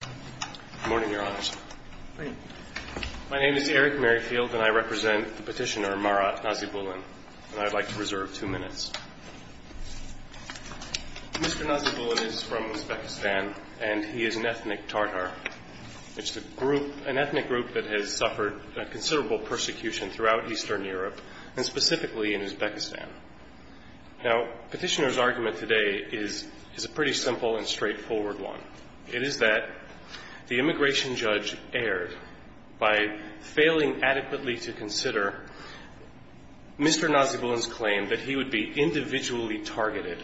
Good morning, Your Honors. Good morning. My name is Eric Merrifield, and I represent the petitioner Marat Nasybulin, and I would like to reserve two minutes. Mr. Nasybulin is from Uzbekistan, and he is an ethnic Tatar. It's an ethnic group that has suffered considerable persecution throughout Eastern Europe, and specifically in Uzbekistan. Now, the petitioner's argument today is a pretty simple and straightforward one. It is that the immigration judge erred by failing adequately to consider Mr. Nasybulin's claim that he would be individually targeted,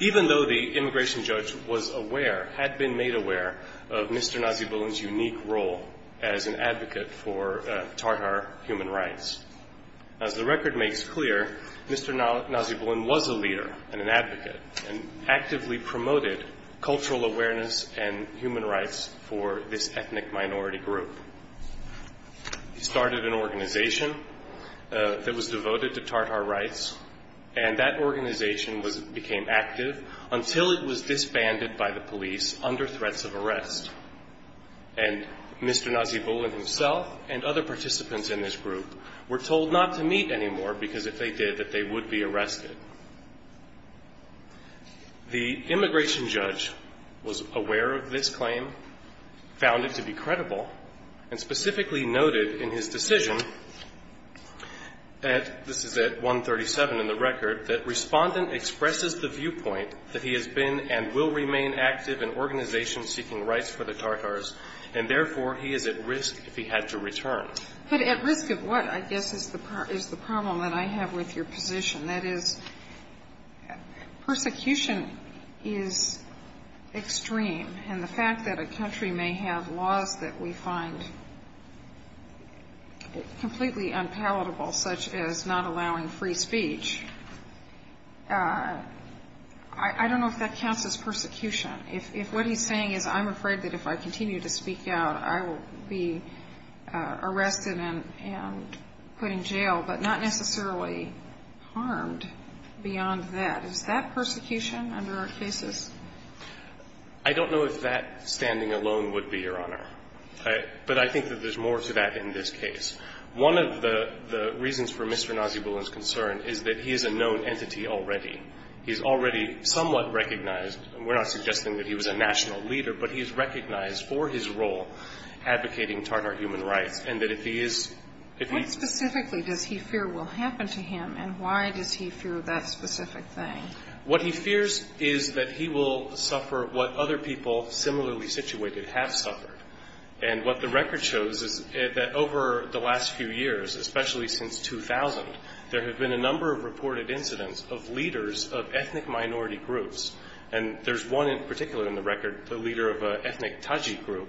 even though the immigration judge was aware, had been made aware, of Mr. Nasybulin's unique role as an advocate for Tatar human rights. As the record makes clear, Mr. Nasybulin was a leader and an advocate, and actively promoted cultural awareness and human rights for this ethnic minority group. He started an organization that was devoted to Tatar rights, and that organization became active until it was disbanded by the police under threats of arrest. And Mr. Nasybulin himself and other participants in this group were told not to meet anymore, because if they did, that they would be arrested. The immigration judge was aware of this claim, found it to be credible, and specifically noted in his decision, this is at 137 in the record, that respondent expresses the viewpoint that he has been and will remain active in organizations seeking rights for the Tatars, and therefore he is at risk if he had to return. But at risk of what, I guess, is the problem that I have with your position? That is, persecution is extreme, and the fact that a country may have laws that we find completely unpalatable, such as not allowing free speech, I don't know if that counts as persecution. If what he's saying is I'm afraid that if I continue to speak out, I will be arrested and put in jail, but not necessarily harmed beyond that. Is that persecution under our cases? I don't know if that standing alone would be, Your Honor. But I think that there's more to that in this case. One of the reasons for Mr. Nasybulin's concern is that he is a known entity already. He's already somewhat recognized. We're not suggesting that he was a national leader, but he's recognized for his role advocating Tatar human rights, and that if he is – What specifically does he fear will happen to him, and why does he fear that specific thing? What he fears is that he will suffer what other people similarly situated have suffered. What the record shows is that over the last few years, especially since 2000, there have been a number of reported incidents of leaders of ethnic minority groups. There's one in particular in the record, the leader of an ethnic Tajik group,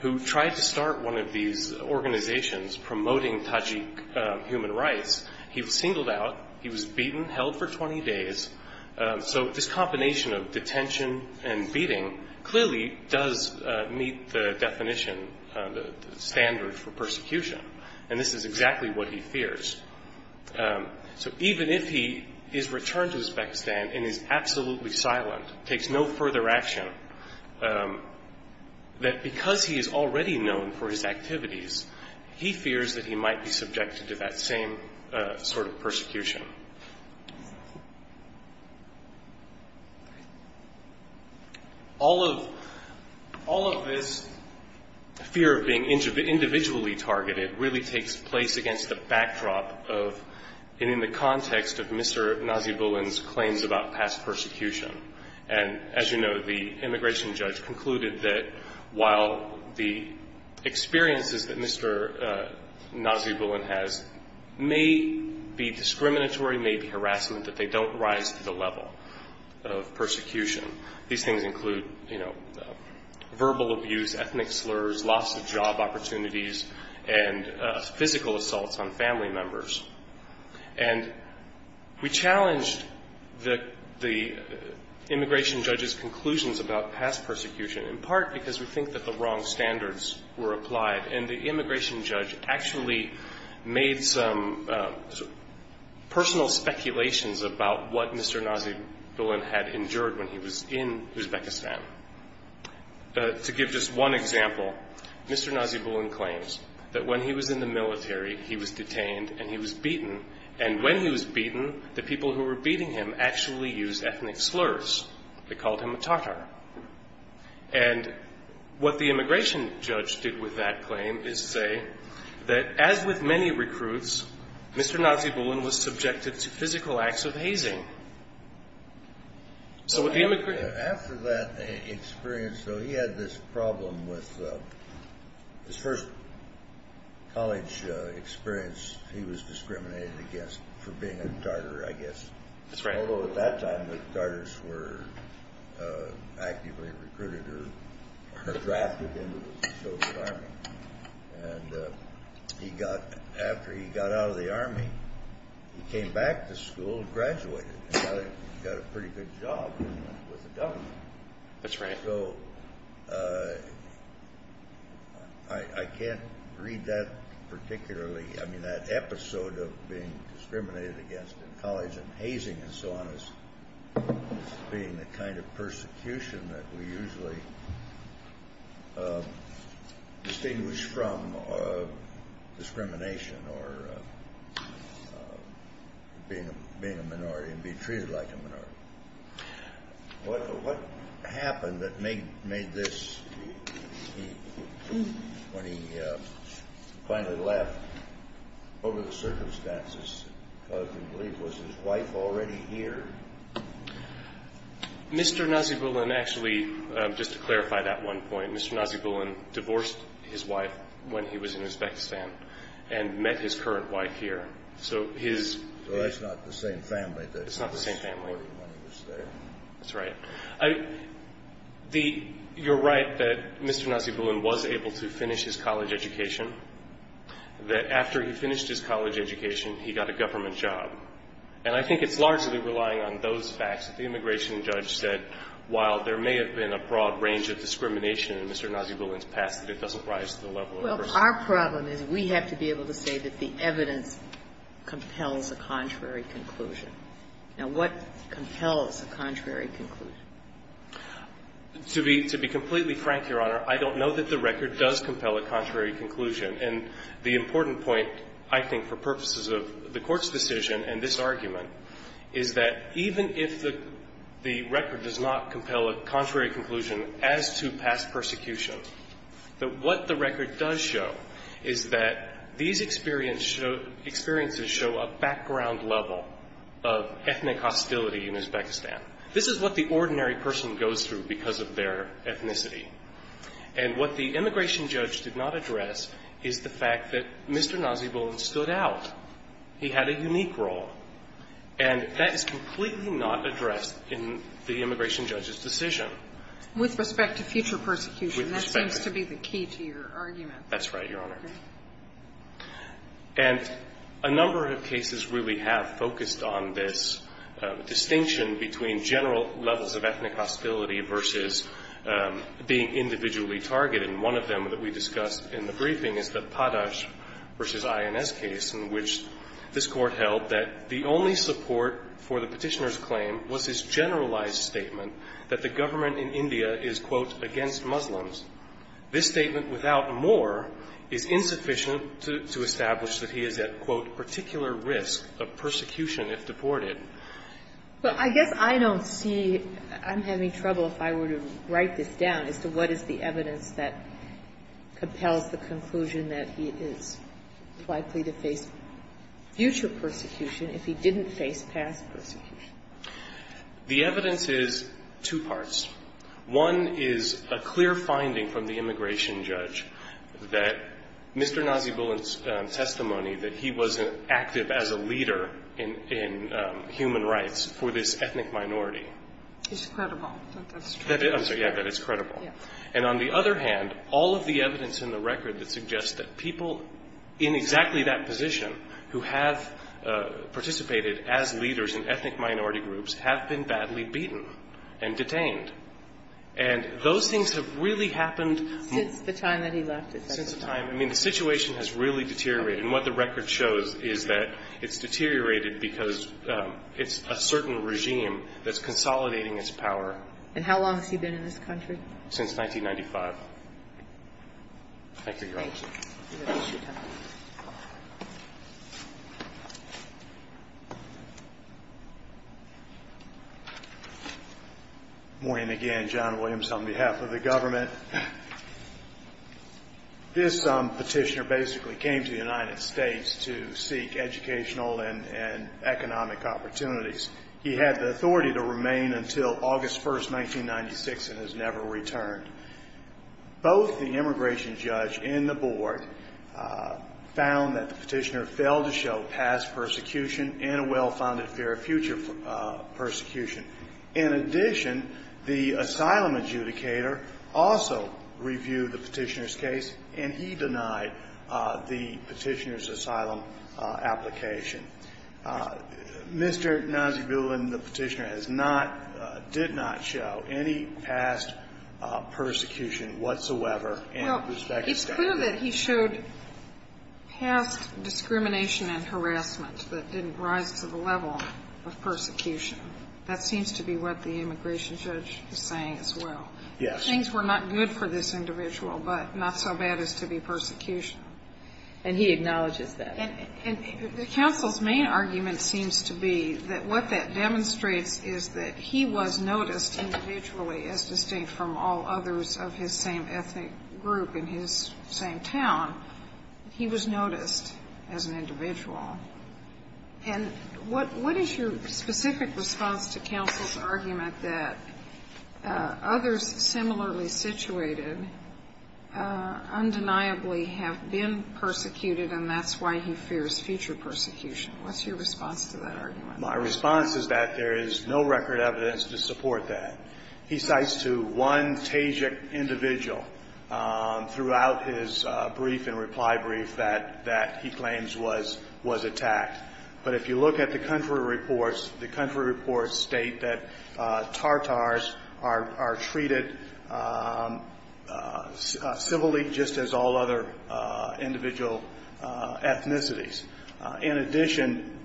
who tried to start one of these organizations promoting Tajik human rights. He was singled out. He was beaten, held for 20 days. So this combination of detention and beating clearly does meet the definition, the standard for persecution. And this is exactly what he fears. So even if he is returned to his back stand and is absolutely silent, takes no further action, that because he is already known for his activities, he fears that he might be subjected to that same sort of persecution. All of this fear of being individually targeted really takes place against the backdrop of and in the context of Mr. Nazibullin's claims about past persecution. And as you know, the immigration judge concluded that while the experiences that Mr. Nazibullin has may be discriminatory, may be harassment, that they don't rise to the level of persecution. These things include verbal abuse, ethnic slurs, loss of job opportunities, and physical assaults on family members. And we challenged the immigration judge's conclusions about past persecution, in part because we think that the wrong standards were applied. And the immigration judge actually made some personal speculations about what Mr. Nazibullin had endured when he was in Uzbekistan. To give just one example, Mr. Nazibullin claims that when he was in the military, he was detained and he was beaten. And when he was beaten, the people who were beating him actually used ethnic slurs. They called him a Tatar. And what the immigration judge did with that claim is say that as with many recruits, Mr. Nazibullin was subjected to physical acts of hazing. After that experience, though, he had this problem with his first college experience. He was discriminated against for being a Tatar, I guess. Although at that time, the Tatars were actively recruited or drafted into the Soviet Army. And after he got out of the Army, he came back to school and graduated and got a pretty good job with the government. That's right. I can't read that particularly. I mean, that episode of being discriminated against in college and hazing and so on as being the kind of persecution that we usually distinguish from discrimination or being a minority and being treated like a minority. What happened that made this, when he finally left, what were the circumstances? Was his wife already here? Mr. Nazibullin actually, just to clarify that one point, Mr. Nazibullin divorced his wife when he was in Uzbekistan and met his current wife here. So that's not the same family. It's not the same family. That's right. You're right that Mr. Nazibullin was able to finish his college education, that after he finished his college education, he got a government job. And I think it's largely relying on those facts that the immigration judge said, while there may have been a broad range of discrimination in Mr. Nazibullin's past, that it doesn't rise to the level of a person. Our problem is we have to be able to say that the evidence compels a contrary conclusion. Now, what compels a contrary conclusion? To be completely frank, Your Honor, I don't know that the record does compel a contrary conclusion. And the important point, I think, for purposes of the Court's decision and this argument, is that even if the record does not compel a contrary conclusion as to past persecution, that what the record does show is that these experiences show a background level of ethnic hostility in Uzbekistan. This is what the ordinary person goes through because of their ethnicity. And what the immigration judge did not address is the fact that Mr. Nazibullin stood out. He had a unique role. And that is completely not addressed in the immigration judge's decision. With respect to future persecution, that seems to be the key to your argument. That's right, Your Honor. And a number of cases really have focused on this distinction between general levels of ethnic hostility versus being individually targeted. And one of them that we discussed in the briefing is the Padash v. INS case in which this Court held that the only support for the Petitioner's claim was his generalized statement that the government in India is, quote, against Muslims. This statement, without more, is insufficient to establish that he is at, quote, particular risk of persecution if deported. Well, I guess I don't see – I'm having trouble if I were to write this down as to what is the evidence that compels the conclusion that he is likely to face future persecution if he didn't face past persecution. The evidence is two parts. One is a clear finding from the immigration judge that Mr. Nazibullin's testimony that he was active as a leader in human rights for this ethnic minority. It's credible that that's true. I'm sorry. Yeah, that it's credible. Yeah. And on the other hand, all of the evidence in the record that suggests that people in exactly that position who have participated as leaders in ethnic minority groups have been badly beaten and detained. And those things have really happened – Since the time that he left it. Since the time – I mean, the situation has really deteriorated. And what the record shows is that it's deteriorated because it's a certain regime that's consolidating its power. And how long has he been in this country? Since 1995. Thank you, Your Honor. Good morning again. John Williams on behalf of the government. This petitioner basically came to the United States to seek educational and economic opportunities. He had the authority to remain until August 1, 1996, and has never returned. Both the immigration judge and the board found that the petitioner failed to show past persecution and a well-founded fear of future persecution. In addition, the asylum adjudicator also reviewed the petitioner's case, and he denied the petitioner's asylum application. Mr. Nazibullin, the petitioner, has not – did not show any past persecution whatsoever. Well, it's clear that he showed past discrimination and harassment that didn't rise to the level of persecution. That seems to be what the immigration judge is saying as well. Yes. Things were not good for this individual, but not so bad as to be persecution. And he acknowledges that. And counsel's main argument seems to be that what that demonstrates is that he was noticed individually, as distinct from all others of his same ethnic group in his same town. He was noticed as an individual. And what is your specific response to counsel's argument that others similarly situated undeniably have been persecuted and that's why he fears future persecution? What's your response to that argument? My response is that there is no record evidence to support that. He cites to one Tajik individual throughout his brief and reply brief that he claims was attacked. But if you look at the country reports, the country reports state that Tartars are treated similarly just as all other individual ethnicities. In addition,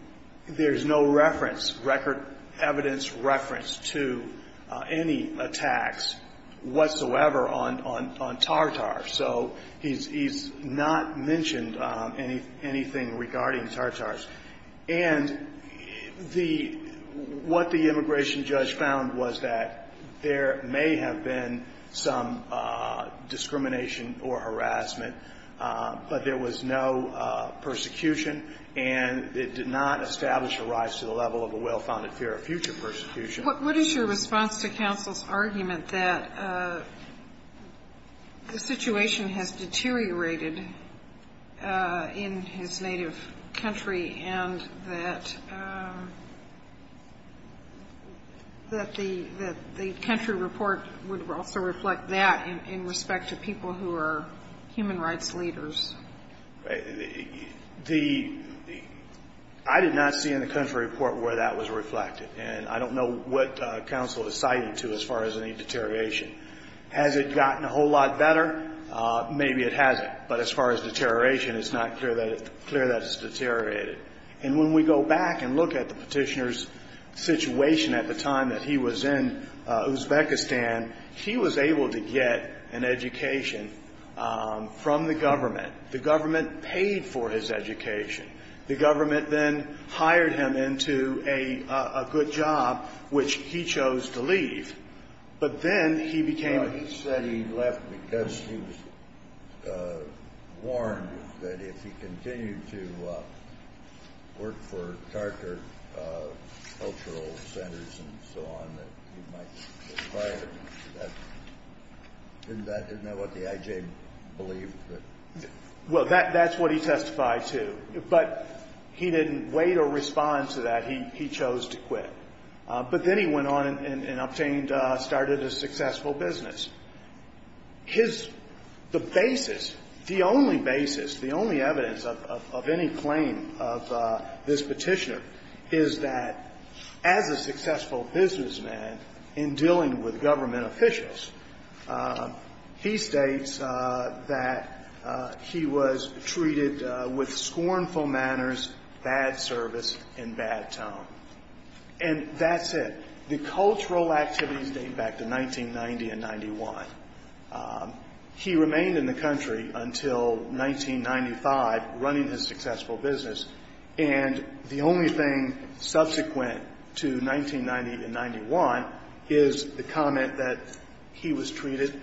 there is no reference, record evidence reference to any attacks whatsoever on Tartars. So he's not mentioned anything regarding Tartars. And the what the immigration judge found was that there may have been some discrimination or harassment, but there was no persecution and it did not establish a rise to the level of a well-founded fear of future persecution. What is your response to counsel's argument that the situation has deteriorated in his native country and that the country report would also reflect that in respect to people who are human rights leaders? The I did not see in the country report where that was reflected and I don't know what counsel is citing to as far as any deterioration. Has it gotten a whole lot better? Maybe it hasn't, but as far as deterioration, it's not clear that it's clear that it's deteriorated. And when we go back and look at the petitioner's situation at the time that he was in Uzbekistan, he was able to get an education from the government. The government paid for his education. The government then hired him into a good job, which he chose to leave. He said he left because he was warned that if he continued to work for Carter Cultural Centers and so on, that he might be fired. Isn't that what the IJ believed? Well, that's what he testified to, but he didn't wait or respond to that. He chose to quit. But then he went on and obtained, started a successful business. His, the basis, the only basis, the only evidence of any claim of this petitioner is that as a successful businessman in dealing with government officials, he states that he was treated with scornful manners, bad service, and bad tone. And that's it. The cultural activities date back to 1990 and 91. He remained in the country until 1995, running his successful business. And the only thing subsequent to 1990 and 91 is the comment that he was treated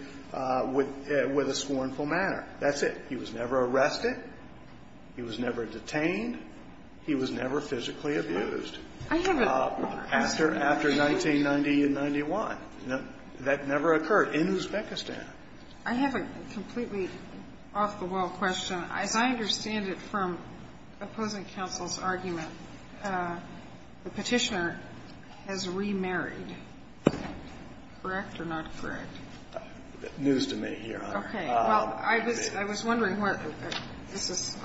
with a scornful manner. That's it. He was never arrested. He was never detained. He was never physically abused. After 1990 and 91. That never occurred in Uzbekistan. I have a completely off-the-wall question. As I understand it from opposing counsel's argument, the Petitioner has remarried. Correct or not correct? News to me, Your Honor. Okay. Well, I was wondering what this is,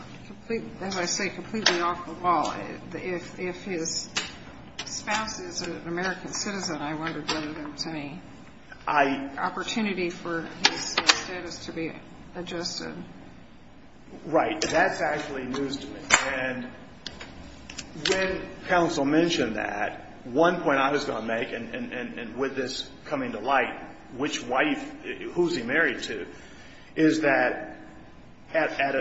as I say, completely off-the-wall. If his spouse is an American citizen, I wondered whether there was any opportunity for his status to be adjusted. Right. That's actually news to me. And when counsel mentioned that, one point I was going to make, and with this coming to light, which wife, who's he married to, is that at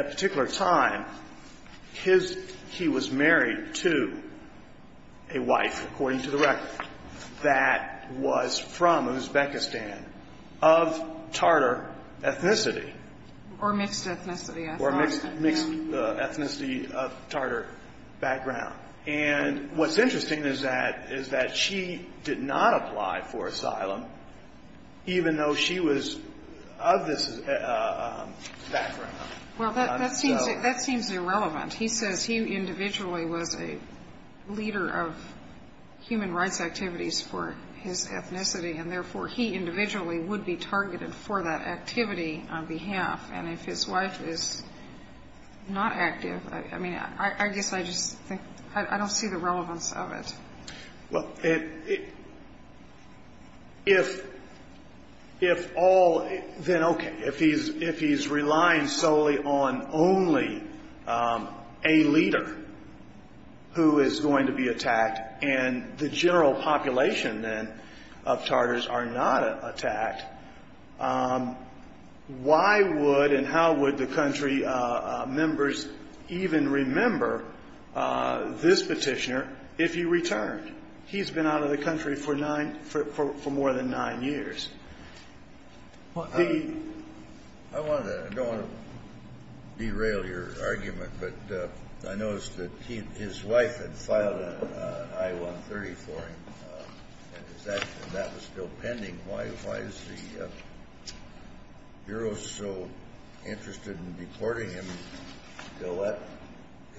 a particular time, he was married to a wife, according to the record, that was from Uzbekistan of Tartar ethnicity. Or mixed ethnicity. Or mixed ethnicity of Tartar background. And what's interesting is that she did not apply for asylum, even though she was of this background. Well, that seems irrelevant. He says he individually was a leader of human rights activities for his ethnicity, and therefore he individually would be targeted for that activity on behalf. And if his wife is not active, I mean, I guess I just think, I don't see the relevance of it. Well, if all, then okay. If he's relying solely on only a leader who is going to be attacked, and the general population, then, of Tartars are not attacked, why would and how would the country members even remember this petitioner if he returned? He's been out of the country for nine, for more than nine years. I don't want to derail your argument, but I noticed that his wife had filed an I-130 for him, and that was still pending. Why is the Bureau so interested in deporting him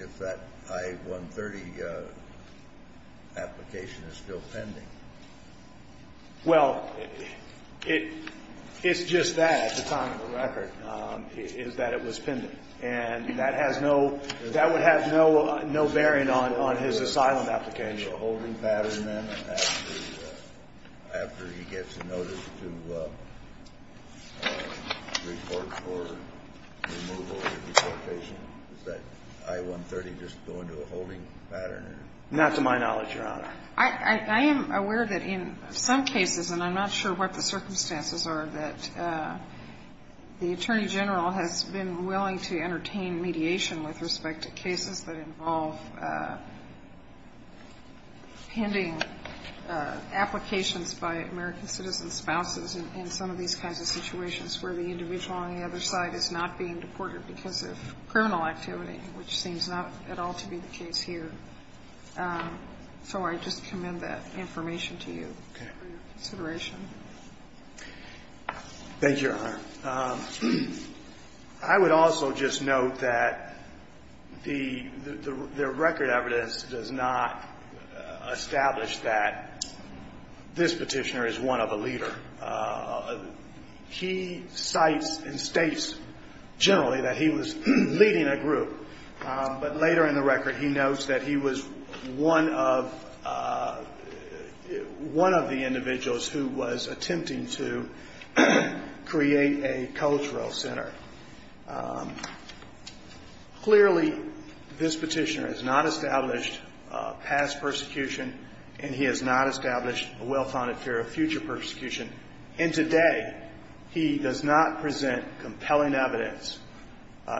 if that I-130 application is still pending? Well, it's just that, at the time of the record, is that it was pending. And that has no – that would have no bearing on his asylum application. Is there a holding pattern then after he gets a notice to report for removal of the deportation? Is that I-130 just going to a holding pattern? Not to my knowledge, Your Honor. I am aware that in some cases, and I'm not sure what the circumstances are, that the Attorney General has been willing to entertain mediation with respect to cases that involve pending applications by American citizen spouses in some of these kinds of situations where the individual on the other side is not being deported because of criminal activity, which seems not at all to be the case here. So I just commend that information to you for your consideration. Okay. Thank you, Your Honor. I would also just note that the record evidence does not establish that this Petitioner is one of a leader. He cites and states generally that he was leading a group, but later in the record he notes that he was one of the individuals who was attempting to create a cultural center. Clearly, this Petitioner has not established past persecution, and he has not established a well-founded fear of future persecution. And today, he does not present compelling evidence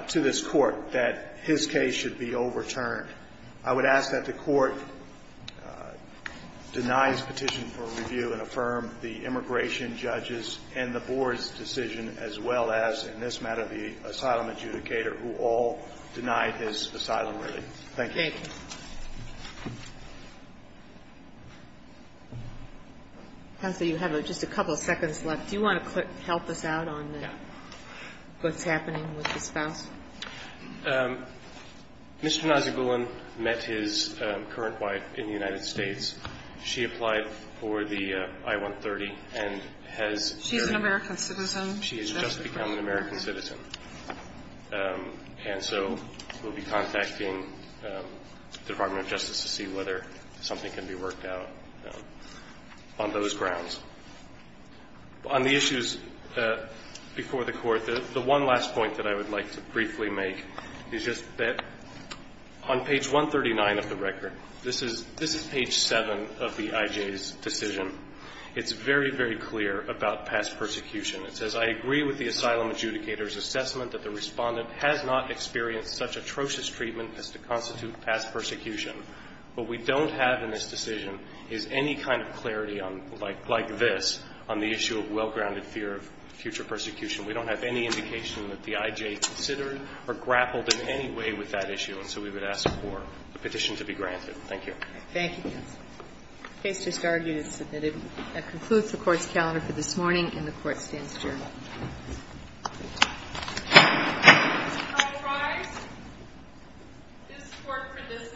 to this Court that his case should be overturned. I would ask that the Court deny his petition for review and affirm the immigration judges and the board's decision, as well as, in this matter, the asylum adjudicator who all denied his asylum leaving. Thank you. Counsel, you have just a couple of seconds left. Do you want to help us out on what's happening with the spouse? Mr. Nazogulan met his current wife in the United States. She applied for the I-130 and has been married. She's an American citizen. She has just become an American citizen. And so we'll be contacting the Department of Justice to see whether something can be worked out on those grounds. On the issues before the Court, the one last point that I would like to briefly make is just that on page 139 of the record, this is page 7 of the IJ's decision, it's very, very clear about past persecution. It says, I agree with the asylum adjudicator's assessment that the Respondent has not experienced such atrocious treatment as to constitute past persecution. What we don't have in this decision is any kind of clarity on, like this, on the issue of well-grounded fear of future persecution. We don't have any indication that the IJ considered or grappled in any way with that issue, and so we would ask for the petition to be granted. Thank you. Thank you, counsel. The case just argued and submitted. That concludes the Court's calendar for this morning, and the Court stands adjourned. All rise. This Court for this session stands adjourned.